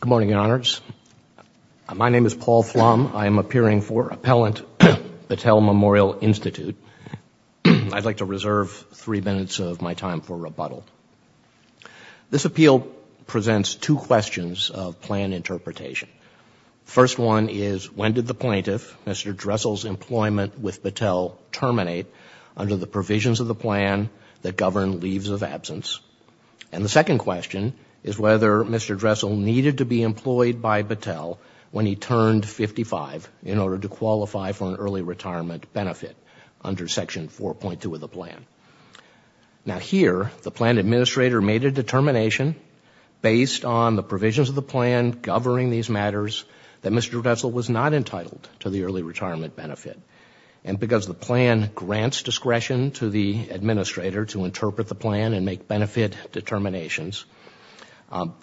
Good morning, Your Honors. My name is Paul Flum. I am appearing for Appellant Battelle Memorial Institute. I'd like to reserve three minutes of my time for rebuttal. This appeal presents two questions of plan interpretation. First one is when did the plaintiff, Mr. Dresel's employment with Battelle terminate under the provisions of the plan that govern leaves of absence? And the second question is whether Mr. Dresel needed to be employed by Battelle when he turned 55 in order to qualify for an early retirement benefit under Section 4.2 of the plan. Now here, the plan administrator made a determination based on the provisions of the plan governing these matters that Mr. Dresel was not entitled to the early retirement benefit. And because the plan grants discretion to the administrator to interpret the plan and make benefit determinations,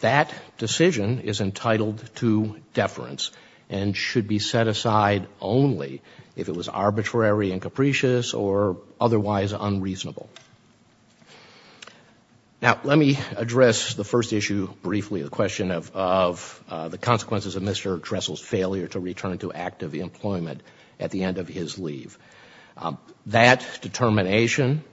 that decision is entitled to deference and should be set aside only if it was arbitrary and capricious or otherwise unreasonable. Now let me address the first issue briefly, the question of the consequences of Mr. Dresel's failure to return to active employment at the end of his leave. That determination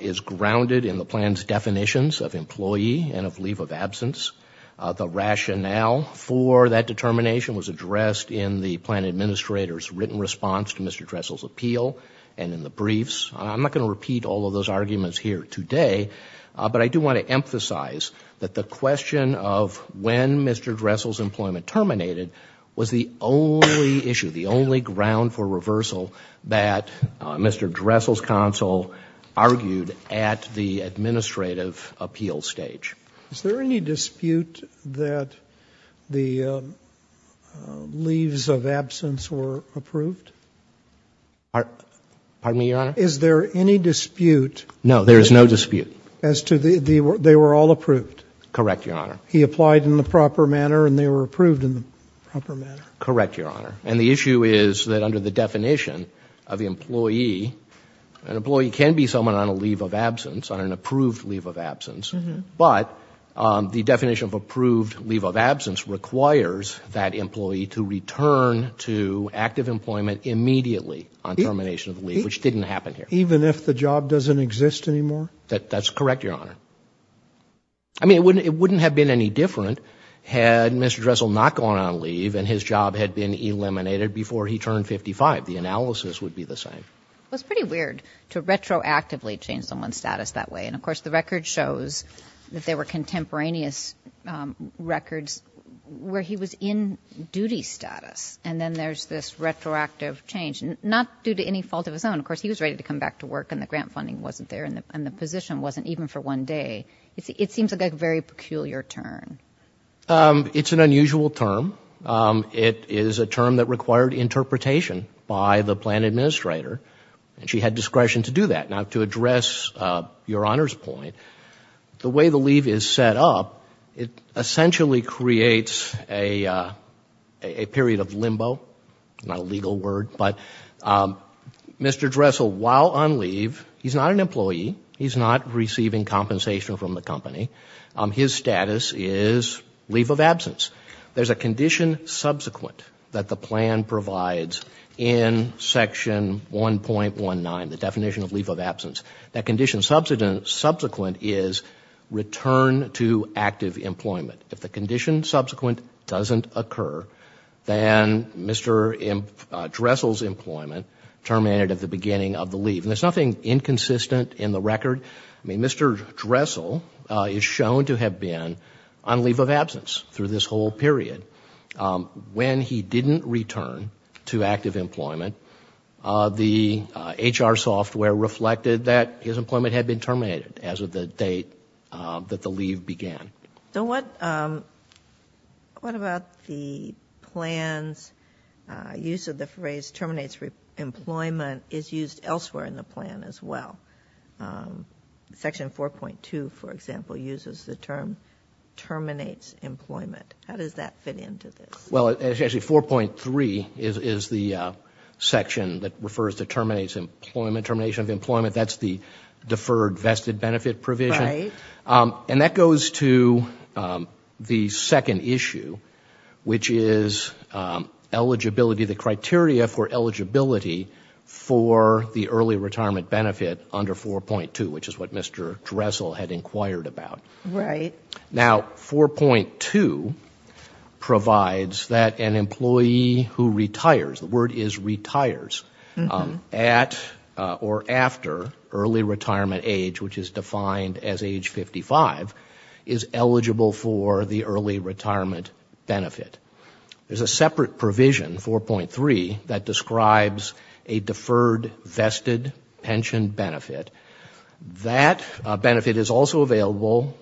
is grounded in the plan's definitions of employee and of leave of absence. The rationale for that determination was addressed in the plan administrator's written response to Mr. Dresel's appeal and in the briefs. I'm not going to repeat all of those arguments here today, but I do want to emphasize that the question of when Mr. Dresel's employment terminated was the only issue, the only ground for reversal that Mr. Dresel's counsel argued at the administrative appeal stage. Is there any dispute that the leaves of absence were approved? Pardon me, Your Honor? No, there is no dispute. As to they were all approved? Correct, Your Honor. He applied in the proper manner and they were approved in the proper manner? Correct, Your Honor. And the issue is that under the definition of employee, an employee can be someone on a leave of absence, on an approved leave of absence, but the definition of approved leave of absence requires that employee to return to active employment immediately on termination of the leave, which didn't happen here. Even if the job doesn't exist anymore? That's correct, Your Honor. I mean, it wouldn't have been any different had Mr. Dresel not gone on leave and his job had been eliminated before he turned 55. The analysis would be the same. It's pretty weird to retroactively change someone's status that way. And of course, the record shows that there were contemporaneous records where he was in duty status. And then there's this retroactive change, not due to any fault of his own. Of course, he was ready to come back to work and the grant funding wasn't there and the position wasn't even for one day. It seems like a very peculiar term. It's an unusual term. It is a term that required interpretation by the plan administrator and she had discretion to do that. Now, to address Your Honor's point, the way the leave is set up, it essentially creates a period of limbo. Not a legal word, but Mr. Dresel, while on leave, he's not an employee. He's not receiving compensation from the company. His status is leave of absence. There's a condition subsequent that the plan provides in Section 1.19, the employment. If the condition subsequent doesn't occur, then Mr. Dresel's employment terminated at the beginning of the leave. And there's nothing inconsistent in the record. Mr. Dresel is shown to have been on leave of absence through this whole period. When he didn't return to active employment, the HR software reflected that his employment had been terminated as of the date that the leave began. So what about the plan's use of the phrase terminates employment is used elsewhere in the plan as well? Section 4.2, for example, uses the term terminates employment. How does that fit into this? Well, actually 4.3 is the section that refers to terminates employment, termination of employment. That's the deferred vested benefit provision. And that goes to the second issue, which is eligibility, the criteria for eligibility for the early retirement benefit under 4.2, which is what Mr. Dresel had inquired about. Now, 4.2 provides that an employee who retires, the word is retires, at or after early retirement age, which is defined as age 55, is eligible for the early retirement benefit. There's a separate provision, 4.3, that describes a deferred vested pension benefit. That benefit is also available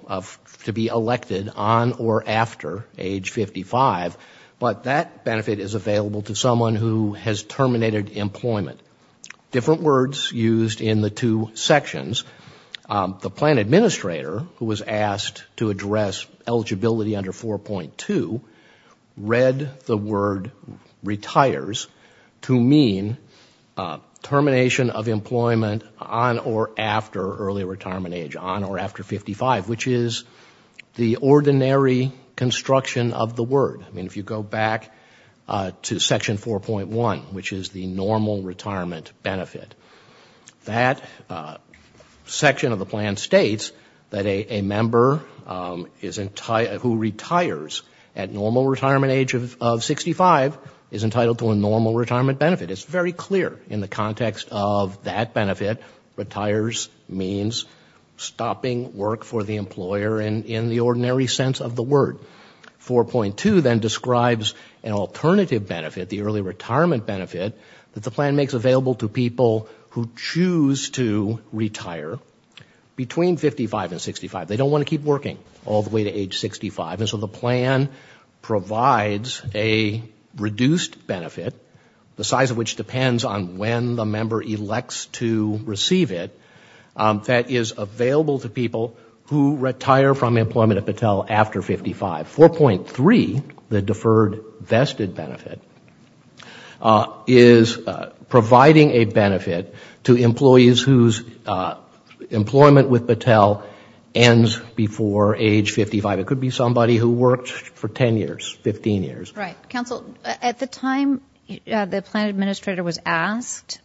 to be elected on or after age 55, but that benefit is available to someone who has terminated employment. Different words used in the two sections. The plan administrator, who was asked to address eligibility under 4.2, read the word retires to mean termination of employment on or after early retirement age, on or after 55, which is the ordinary construction of the word. I mean, if you go back to section 4.1, which is the normal retirement benefit, that section of the plan states that a member who retires at normal retirement age of 65 is entitled to a normal retirement benefit. It's very clear in the context of that benefit, retires means stopping work for the employer in the ordinary sense of the word. 4.2 then describes an alternative benefit, the early retirement benefit, that the plan makes available to people who choose to retire between 55 and 65. They don't want to keep working all the way to age 65, and so the plan provides a reduced benefit, the size of which depends on when the member elects to receive it, that is available to people who retire from employment at Battelle after 55. 4.3, the deferred vested benefit, is providing a benefit to employees whose employment with Battelle ends before age 55. It could be somebody who worked for 10 years, 15 years. Right. Counsel, at the time the plan administrator was asked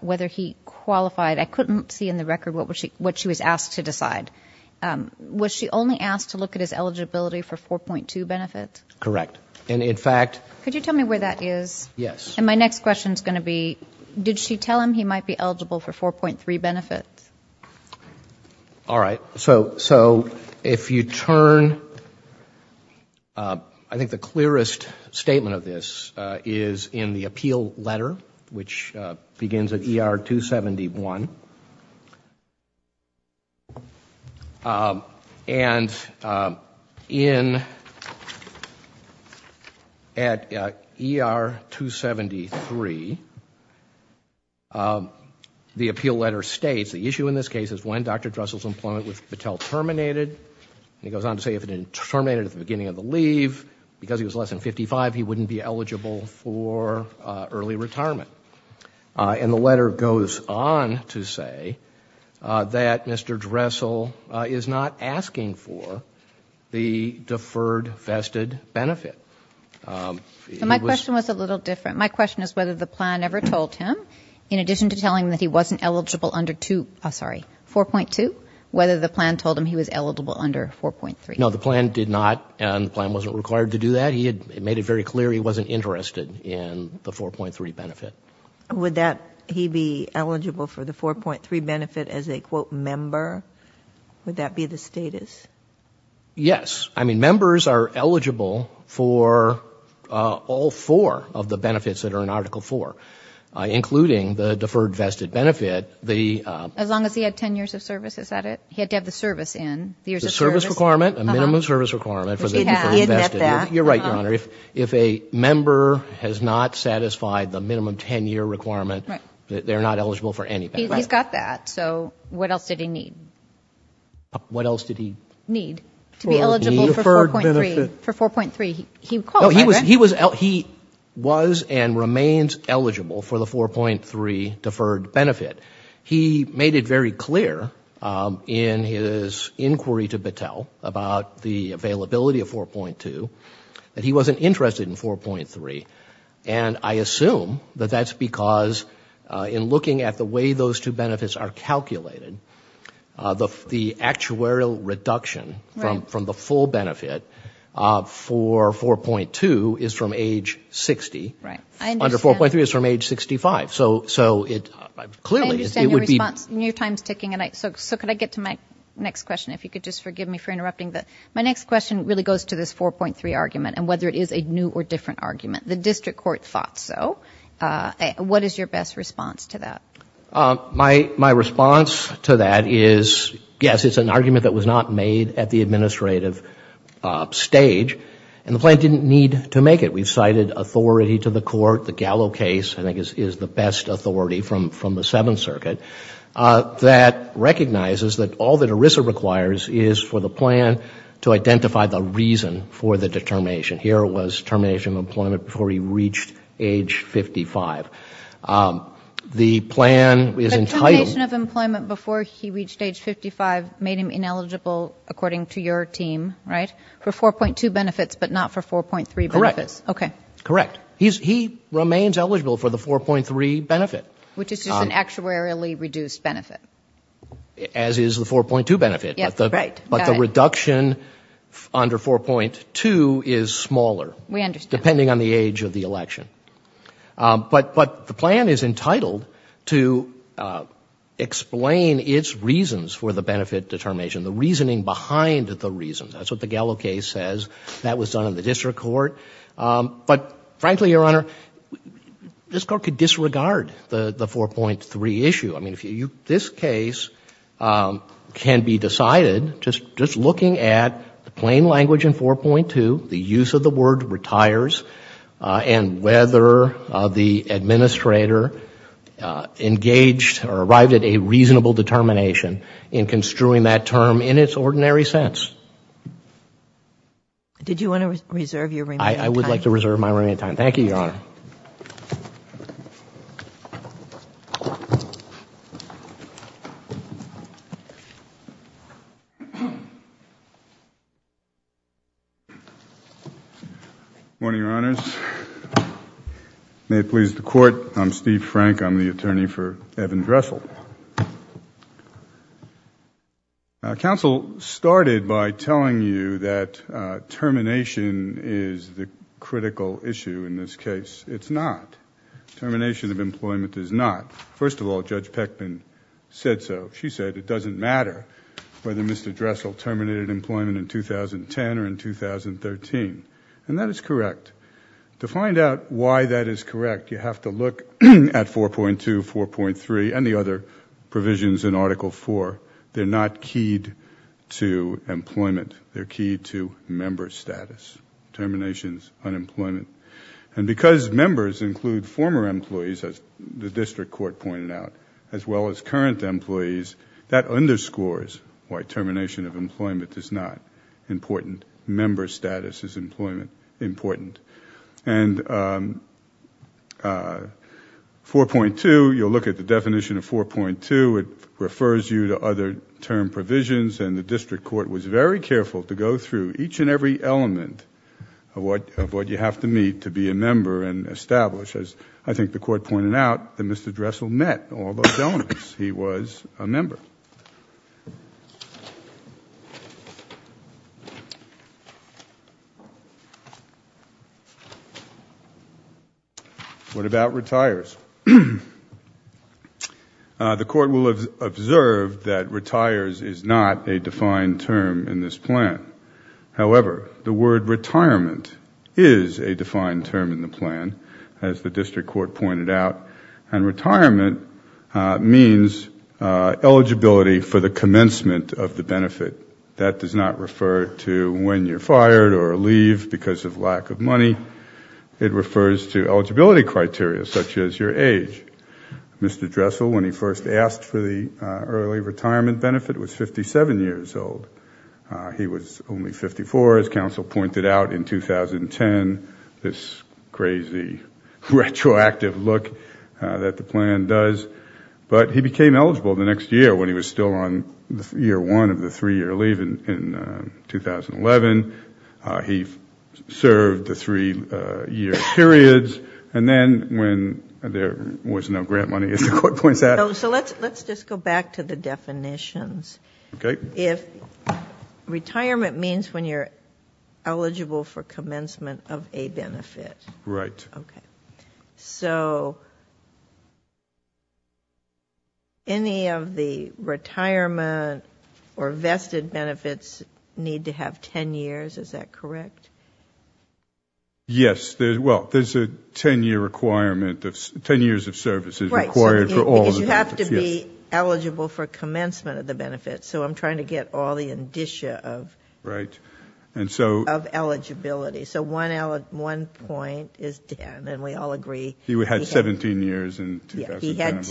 whether he qualified, I couldn't see in the record what she was asked to decide. Was she only asked to look at his eligibility for 4.2 benefit? Correct. And in fact... Could you tell me where that is? Yes. And my next question is going to be, did she tell him he might be eligible for all three benefits? All right. So if you turn, I think the clearest statement of this is in the appeal letter, which begins at ER 271. And in, at ER 273, the appeal letter states, the issue in this case is when Dr. Dressel's employment with Battelle terminated, and he goes on to say if it didn't terminate at the beginning of the leave, because he was less than 55, he wouldn't be eligible for early retirement. And the letter goes on to say that Mr. Dressel is not asking for the deferred vested benefit. My question was a little different. My question is whether the plan ever told him, in addition to telling him that he wasn't eligible under 2, oh, sorry, 4.2, whether the plan told him he was eligible under 4.3. No, the plan did not, and the plan wasn't required to do that. It made it very clear he wasn't interested in the 4.3 benefit. Would that, he be eligible for the 4.3 benefit as a, quote, member? Would that be the status? Yes. I mean, members are eligible for all four of the benefits that are in Article 4, including the deferred vested benefit. As long as he had 10 years of service, is that it? He had to have the service in, the years of service. The service requirement, a minimum service requirement for the people invested. Which he had, he had met that. You're right, Your Honor. If a member has not satisfied the minimum 10-year requirement, they're not eligible for any benefit. He's got that, so what else did he need? What else did he need? To be eligible for 4.3, for 4.3. He was and remains eligible for the 4.3 deferred benefit. He made it very clear in his inquiry to Battelle about the availability of 4.2 that he wasn't interested in 4.3, and I assume that that's because in looking at the way those two benefits are calculated, the actuarial reduction from the full benefit for 4.2 is from age 60. Right. Under 4.3, it's from age 65, so it clearly is, it would be. I understand your response, and your time's ticking, so could I get to my next question, if you could just forgive me for interrupting. My next question really goes to this 4.3 argument, and whether it is a new or different argument. The district court thought so. What is your best response to that? My response to that is, yes, it's an argument that was not made at the administrative stage, and the plan didn't need to make it. We've cited authority to the court. The Gallo case, I think, is the best authority from the Seventh Circuit that recognizes that all that ERISA requires is for the plan to identify the reason for the determination. Here it was termination of employment before he reached age 55. The plan is entitled... The termination of employment before he reached age 55 made him ineligible, according to your team, right, for 4.2 benefits, but not for 4.3 benefits? Correct. Okay. Correct. He remains eligible for the 4.3 benefit. Which is just an actuarially reduced benefit. As is the 4.2 benefit, but the reduction under 4.2 is smaller, depending on the age of the election. But the plan is entitled to explain its reasons for the benefit determination, the reasoning behind the reasons. That's what the Gallo case says. That was done in the district court. But, frankly, Your Honor, this Court could disregard the 4.3 issue. I mean, this case can be decided just looking at the plain language in 4.2, the use of the word retires, and whether the administrator engaged or arrived at a reasonable determination in construing that term in its ordinary sense. Did you want to reserve your remaining time? I would like to reserve my remaining time. Thank you, Your Honor. Good morning, Your Honors. May it please the Court, I'm Steve Frank. I'm the attorney for Evan Dressel. Counsel started by telling you that termination is the critical issue in this case. It's not. Termination of employment is not. First of all, Judge Peckman said so. She said it doesn't matter whether Mr. Dressel terminated employment in 2010 or in 2013. That is correct. To find out why that is correct, you have to look at 4.2, 4.3, and the other provisions in Article IV. They're not keyed to employment. They're keyed to member status. Termination is unemployment. Because members include former employees, as the district court pointed out, as well as current employees, that underscores why termination of employment is not important. Member status is employment important. 4.2, you'll look at the definition of 4.2. It refers you to other term provisions, and the district court was very careful to go through each and every element of what you have to meet to be a member and establish. I think the court pointed out that Mr. Dressel met all those elements. He was a member. What about retires? The court will observe that retires is not a defined term in this plan. However, the word retirement is a defined term in the plan, as the district court pointed out. Retirement means eligibility for the commencement of the benefit. That does not refer to when you're fired or leave because of lack of money. It refers to eligibility criteria such as your age. Mr. Dressel, when he first asked for the early retirement benefit, was 57 years old. He was only 54, as counsel pointed out, in 2010. This crazy retroactive look that the plan does. He became eligible the next year when he was still on year one of the three-year leave in 2011. He served the three-year periods. Then when there was no grant money, as the court points out. Let's just go back to the definitions. Retirement means when you're eligible for commencement of a benefit. Right. Any of the retirement or vested benefits need to have 10 years. Is that correct? Yes. There's a 10-year requirement of 10 years of services required for all the benefits. You have to be eligible for commencement of the benefit. I'm trying to get all the indicia of eligibility. One point is 10. We all agree. He had 17 years in 2010. He had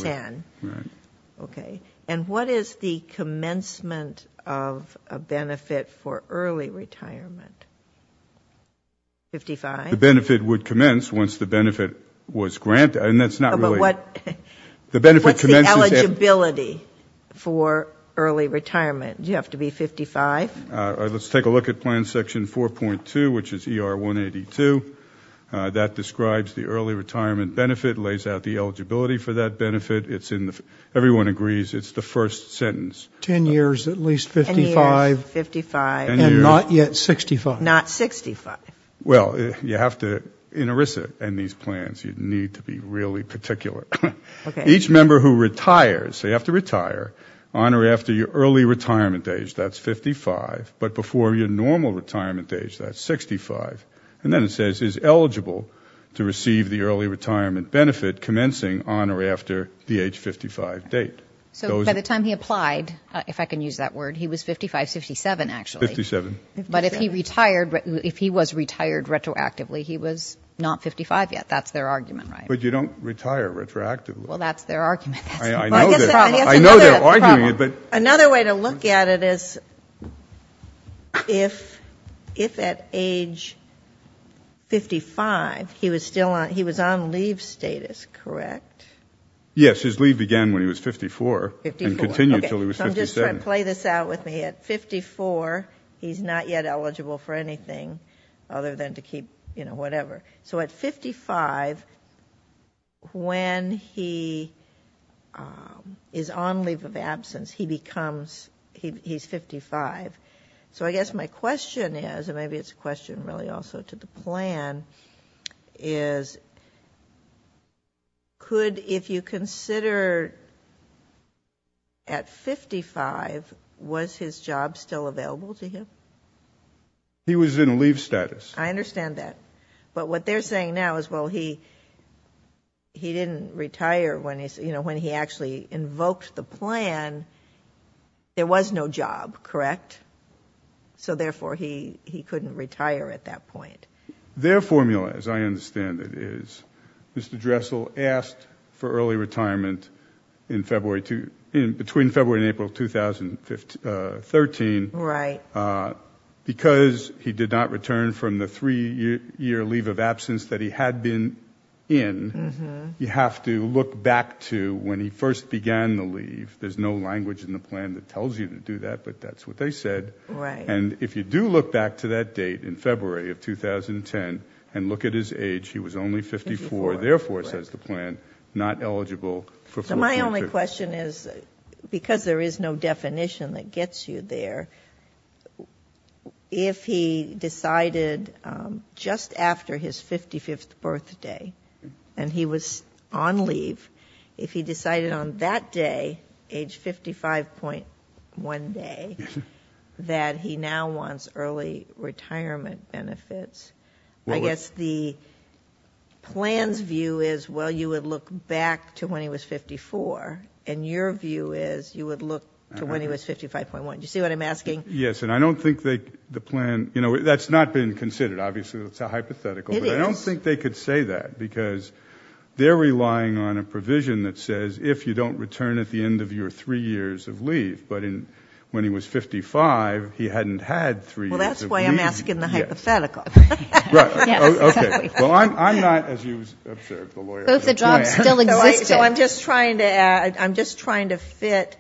10. What is the commencement of a benefit for early retirement? 55? The benefit would commence once the benefit was granted. That's early retirement. You have to be 55. Let's take a look at plan section 4.2, which is ER 182. That describes the early retirement benefit. It lays out the eligibility for that benefit. Everyone agrees it's the first sentence. 10 years, at least 55. Not yet 65. Not 65. You have to, in ERISA and these plans, you need to be really particular. Each member who retires, they have to retire on or after your early retirement age. That's 55. Before your normal retirement age, that's 65. Then it says, is eligible to receive the early retirement benefit commencing on or after the age 55 date. By the time he applied, if I can use that word, he was 55, 57 actually. 57. If he was retired retroactively, he was not 55 yet. That's their argument, right? You don't retire retroactively. That's their argument. I know they're arguing it. Another way to look at it is, if at age 55, he was on leave status, correct? Yes, his leave began when he was 54 and continued until he was 57. I'm just trying to play this out with me. At 54, he's not yet eligible for anything other than to keep whatever. At 55, when he is on leave of absence, he's 55. I guess my question is, and maybe it's a question really also to the plan, is could, if you consider at 55, was his job still available to him? He was in leave status. I understand that. What they're saying now is, well, he didn't retire when he actually invoked the plan. There was no job, correct? Therefore, he couldn't retire at that point. Their formula, as I said, between February and April 2013, because he did not return from the three-year leave of absence that he had been in, you have to look back to when he first began the leave. There's no language in the plan that tells you to do that, but that's what they said. If you do look back to that date in February of 2010 and look at his age, he was only 54. Therefore, says the plan, not eligible for 4.2. My only question is, because there is no definition that gets you there, if he decided just after his 55th birthday, and he was on leave, if he decided on that day, age 55.1 day, that he now wants early retirement benefits, I guess the plan's view is, well, you would look back to when he was 54, and your view is, you would look to when he was 55.1. Do you see what I'm asking? Yes, and I don't think the plan... That's not been considered. Obviously, that's a hypothetical. It is. I don't think they could say that, because they're relying on a provision that says, if you don't return at the end of your three years of leave, but when he was 55, he hadn't had three years of leave. Well, that's why I'm asking the hypothetical. Right. Okay. Well, I'm not, as you observed, the lawyer of the plan. Both the jobs still existed. I'm just trying to fit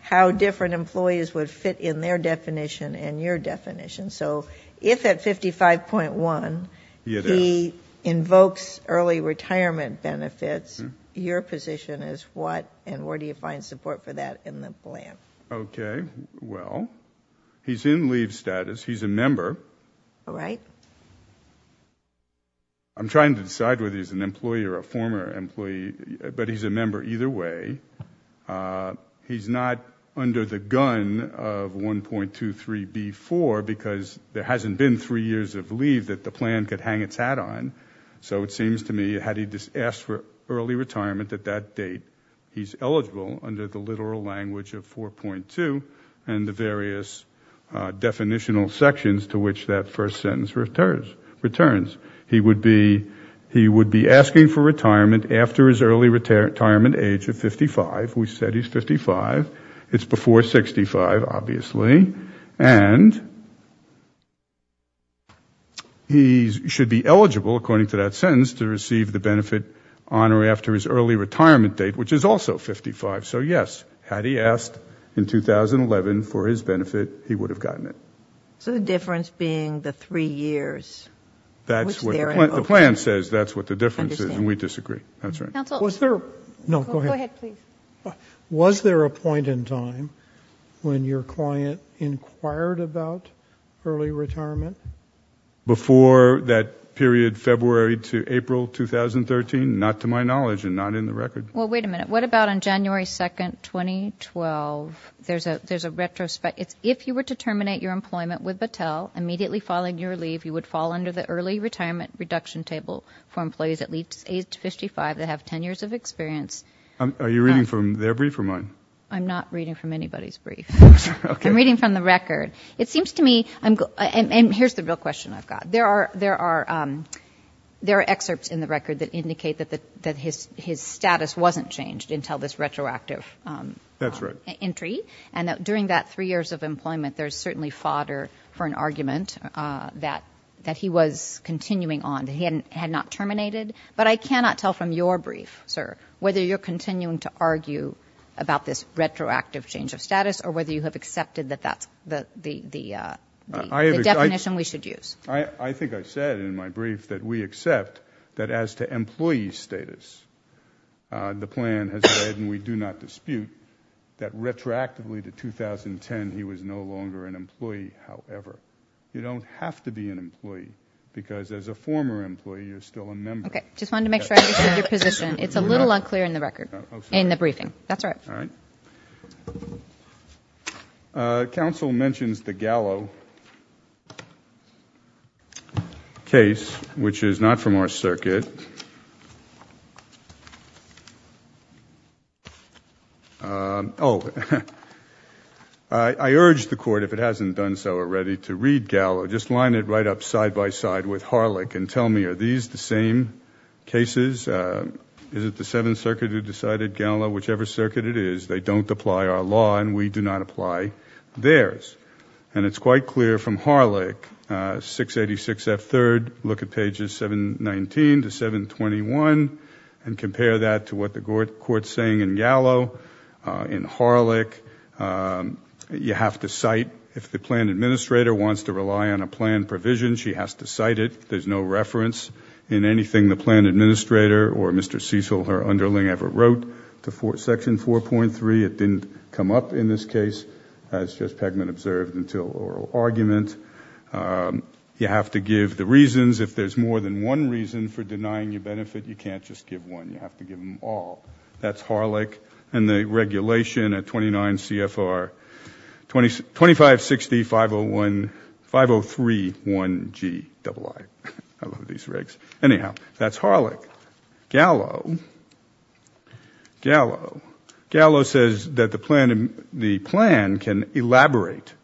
how different employees would fit in their definition and your definition, so if at 55.1, he invokes early retirement benefits, your position is, well, that's what, and where do you find support for that in the plan? Okay. Well, he's in leave status. He's a member. All right. I'm trying to decide whether he's an employee or a former employee, but he's a member either way. He's not under the gun of 1.23B4, because there hasn't been three years of leave that the plan could hang its hat on, so it seems to me, had he just asked for early retirement at that date, he's eligible under the literal language of 4.2 and the various definitional sections to which that first sentence returns. He would be asking for retirement after his early retirement age of 55. We said he's 55. It's before 65, obviously, and he should be eligible, according to that sentence, to receive the benefit on or after his early retirement date, which is also 55, so yes, had he asked in 2011 for his benefit, he would have gotten it. The difference being the three years, which they're in. The plan says that's what the difference is, and we disagree. That's right. Counsel, go ahead, please. Was there a point in time when your client inquired about early retirement? Before that period, February to April 2013? Not to my knowledge, and not in the record. Wait a minute. What about on January 2, 2012? There's a retrospective. If you were to terminate your employment with Battelle, immediately following your leave, you would fall under the early retirement reduction table for employees at least age 55 that have 10 years of experience. Are you reading from their brief or mine? I'm not reading from anybody's brief. I'm reading from the record. It seems to me... Here's the real question I've got. There are excerpts in the record that indicate that his status wasn't changed until this retroactive entry, and that during that three years of employment, there's certainly fodder for an argument that he was continuing on, that he had not terminated, but I cannot tell from your brief, sir, whether you're continuing to argue about this retroactive change of status or whether you have accepted that that's the definition we should use. I think I said in my brief that we accept that as to employee status, the plan has said, and we do not dispute, that retroactively to 2010, he was no longer an employee. However, you don't have to be an employee because as a former employee, you're still a member. Okay. Just wanted to make sure I understood your position. It's a little unclear in the record, in the briefing. That's all right. All right. Council mentions the Gallo case, which is not from our circuit. Oh, I urge the court, if it hasn't done so already, to read Gallo. Just line it right up side by side with Harlech and tell me, are these the same cases? Is it the Seventh Circuit who decided Gallo? Whichever circuit it is, they don't apply our law and we do not apply theirs. It's quite clear from Harlech, 686F3rd, look at pages 719 to 721 and compare that to what the court's saying in Gallo, in Harlech. You have to cite, if the plan administrator wants to rely on a plan provision, she has to cite it. There's no reference in anything the plan administrator or Mr. Cecil, her underling, ever wrote to section 4.3. Maybe it didn't come up in this case, as Judge Pegman observed, until oral argument. You have to give the reasons. If there's more than one reason for denying your benefit, you can't just give one. You have to give them all. That's Harlech and the regulation at 29 CFR 25605031GII. I love these regs. Anyhow, that's Harlech. Gallo says that the plan can elaborate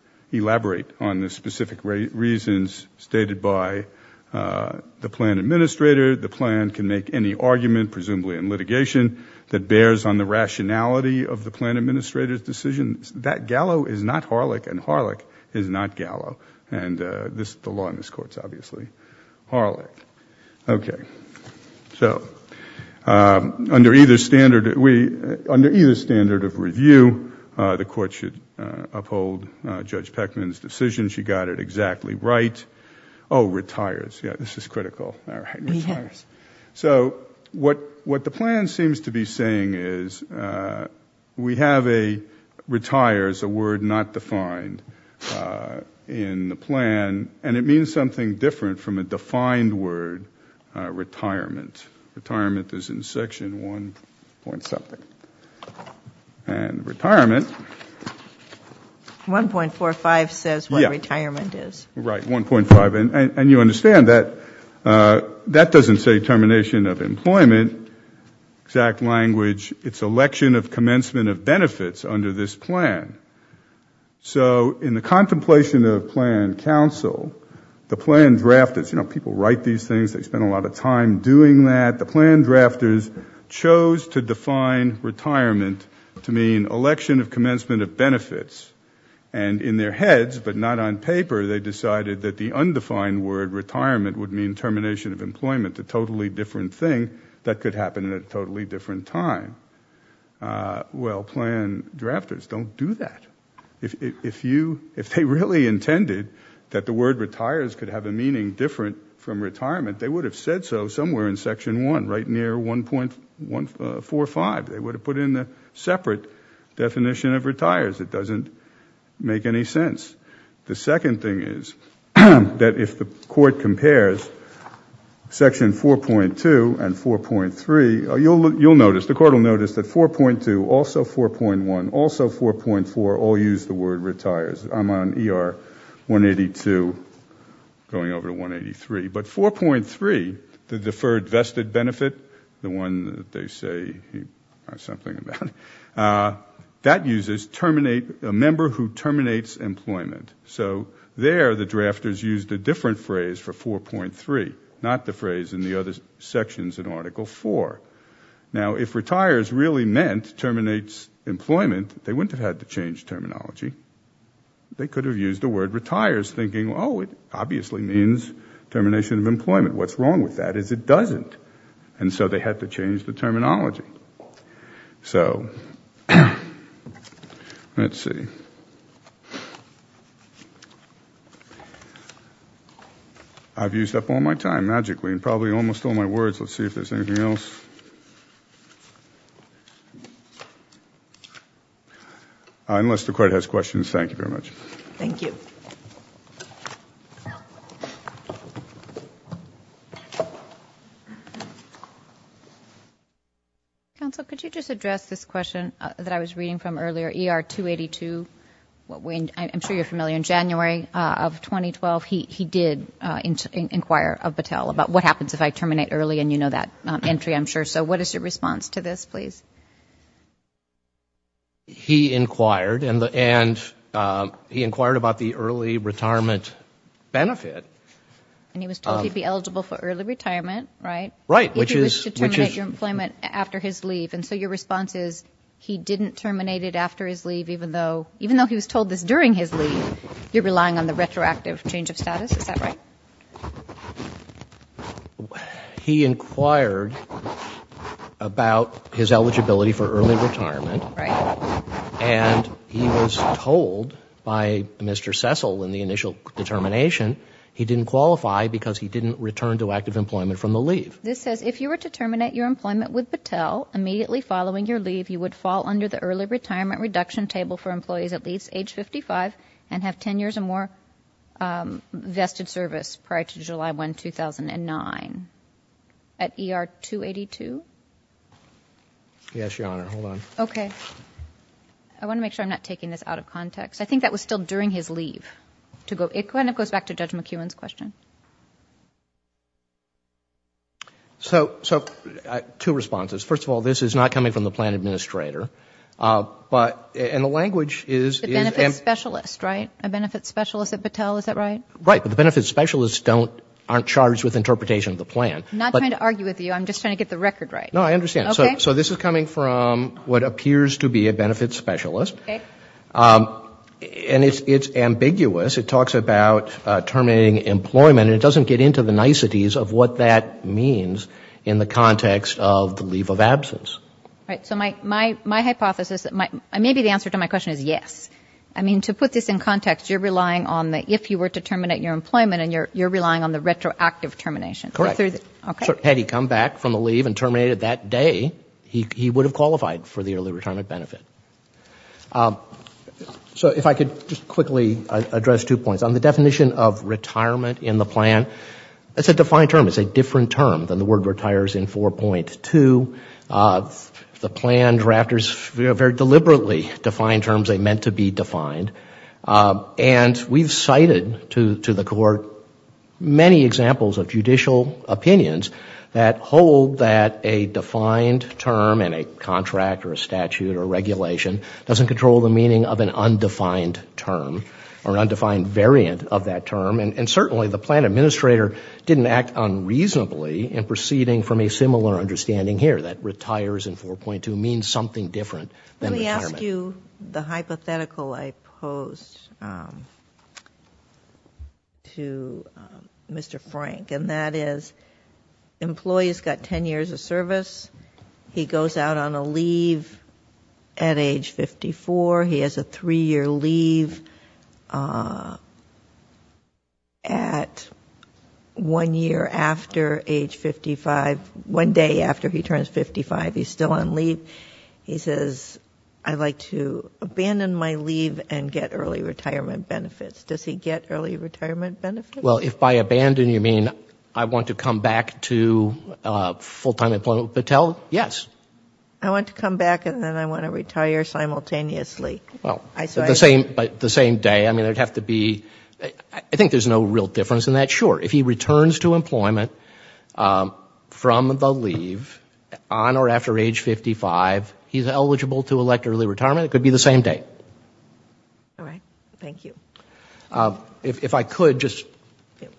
on the specific reasons stated by the plan administrator. The plan can make any argument, presumably in litigation, that bears on the rationality of the plan administrator's decision. That Gallo is not Harlech and Harlech is not Gallo. The law in this Court is obviously Harlech. Under either standard of review, the Court should uphold Judge Pegman's decision. She got it exactly right. What the plan seems to be saying is, we have a retires, a word not defined in the plan. It means something different from a defined word, retirement. Retirement is in section 1. something. 1.45 says what retirement is. You understand, that doesn't say termination of employment. Exact language, it's election of commencement of benefits under this plan. In the contemplation of plan counsel, the plan drafters, people write these things, they spend a lot of time doing that, the plan to mean election of commencement of benefits. In their heads, but not on paper, they decided that the undefined word, retirement, would mean termination of employment, a totally different thing that could happen at a totally different time. Well, plan drafters don't do that. If they really intended that the word retires could have a meaning different from retirement, they would have said so somewhere in section 1, right near 1.45. They would have put in a separate definition of retires. It doesn't make any sense. The second thing is, that if the court compares section 4.2 and 4.3, you'll notice, the court will notice that 4.2, also 4.1, also 4.4, all use the word retires. I'm on ER 182 going over to 183, but 4.3, the deferred vested benefit, the one that they say something about, that uses a member who terminates employment. There, the drafters used a different phrase for 4.3, not the phrase in the other sections in Article 4. If retires really meant terminates employment, they wouldn't have had to change terminology. They could have used the word retires, thinking, oh, it obviously means termination of employment. What's wrong with that is it doesn't. And so they had to change the terminology. So, let's see. I've used up all my time, magically, and probably almost all my words. Let's see if there's anything else. Unless the court has questions, thank you very much. Thank you. Counsel, could you just address this question that I was reading from earlier? ER 282, I'm sure you're familiar. In January of 2012, he did inquire of Battelle about what happens if I terminate early, and you know that entry, I'm sure. So, what is your response to this, please? He inquired, and he inquired about the early retirement benefit. And he was told he'd be eligible for early retirement, right? Right, which is If he was to terminate your employment after his leave. And so your response is, he didn't terminate it after his leave, even though he was told this during his leave. You're relying on the retroactive change of status, is that right? He inquired about his eligibility for early retirement. Right. And he was told by Mr. Cecil in the initial determination, he didn't qualify because he didn't return to active employment from the leave. This says, if you were to terminate your employment with Battelle, immediately following your leave, you would fall under the early retirement reduction table for employees at least age 55 and have 10 years or more vested service prior to July 1, 2009. At ER 282? Yes, Your Honor. Hold on. Okay. I want to make sure I'm not taking this out of context. I think that was still during his leave. It kind of goes back to Judge McEwen's question. So, two responses. First of all, this is not coming from the plan administrator. And the language is A benefits specialist, right? A benefits specialist at Battelle, is that right? Right. But the benefits specialists aren't charged with interpretation of the plan. I'm not trying to argue with you. I'm just trying to get the record right. No, I understand. Okay. So this is coming from what appears to be a benefits specialist. Okay. And it's ambiguous. It talks about terminating employment. And it doesn't get into the niceties of what that means in the context of the leave of absence. Right. So my hypothesis, maybe the answer to my question is yes. I mean, to put this in context, you're relying on the if you were to terminate your employment, and you're relying on the retroactive termination. Correct. Okay. Had he come back from the leave and terminated that day, he would have qualified for the early retirement benefit. So if I could just quickly address two points. On the definition of retirement in the plan, it's a defined term. It's a different term than the word retires in 4.2. The plan drafters very deliberately define terms they meant to be defined. And we've cited to the court many examples of judicial opinions that hold that a defined term in a contract or a statute or regulation doesn't control the meaning of an undefined term or an undefined variant of that term. And certainly the plan administrator didn't act unreasonably in proceeding from a similar understanding here, that retires in 4.2 means something different than retirement. Let me ask you the hypothetical I posed to Mr. Frank. And that is, the employee's got 10 years of service. He goes out on a leave at age 54. He has a three-year leave, and at one year after age 55, one day after he turns 55, he's still on leave. He says, I'd like to abandon my leave and get early retirement benefits. Does he get early retirement benefits? Well, if by abandon you mean I want to come back to full-time employment with Patel, yes. I want to come back and then I want to retire simultaneously. Well, but the same day, I mean, there would have to be, I think there's no real difference in that. Sure, if he returns to employment from the leave on or after age 55, he's eligible to elect early retirement. It could be the same day. All right. Thank you. If I could just...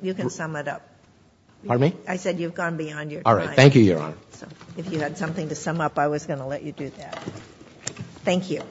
You can sum it up. Pardon me? I said you've gone beyond your time. All right. Thank you, Your Honor. If you had something to sum up, I was going to let you do that. Thank you.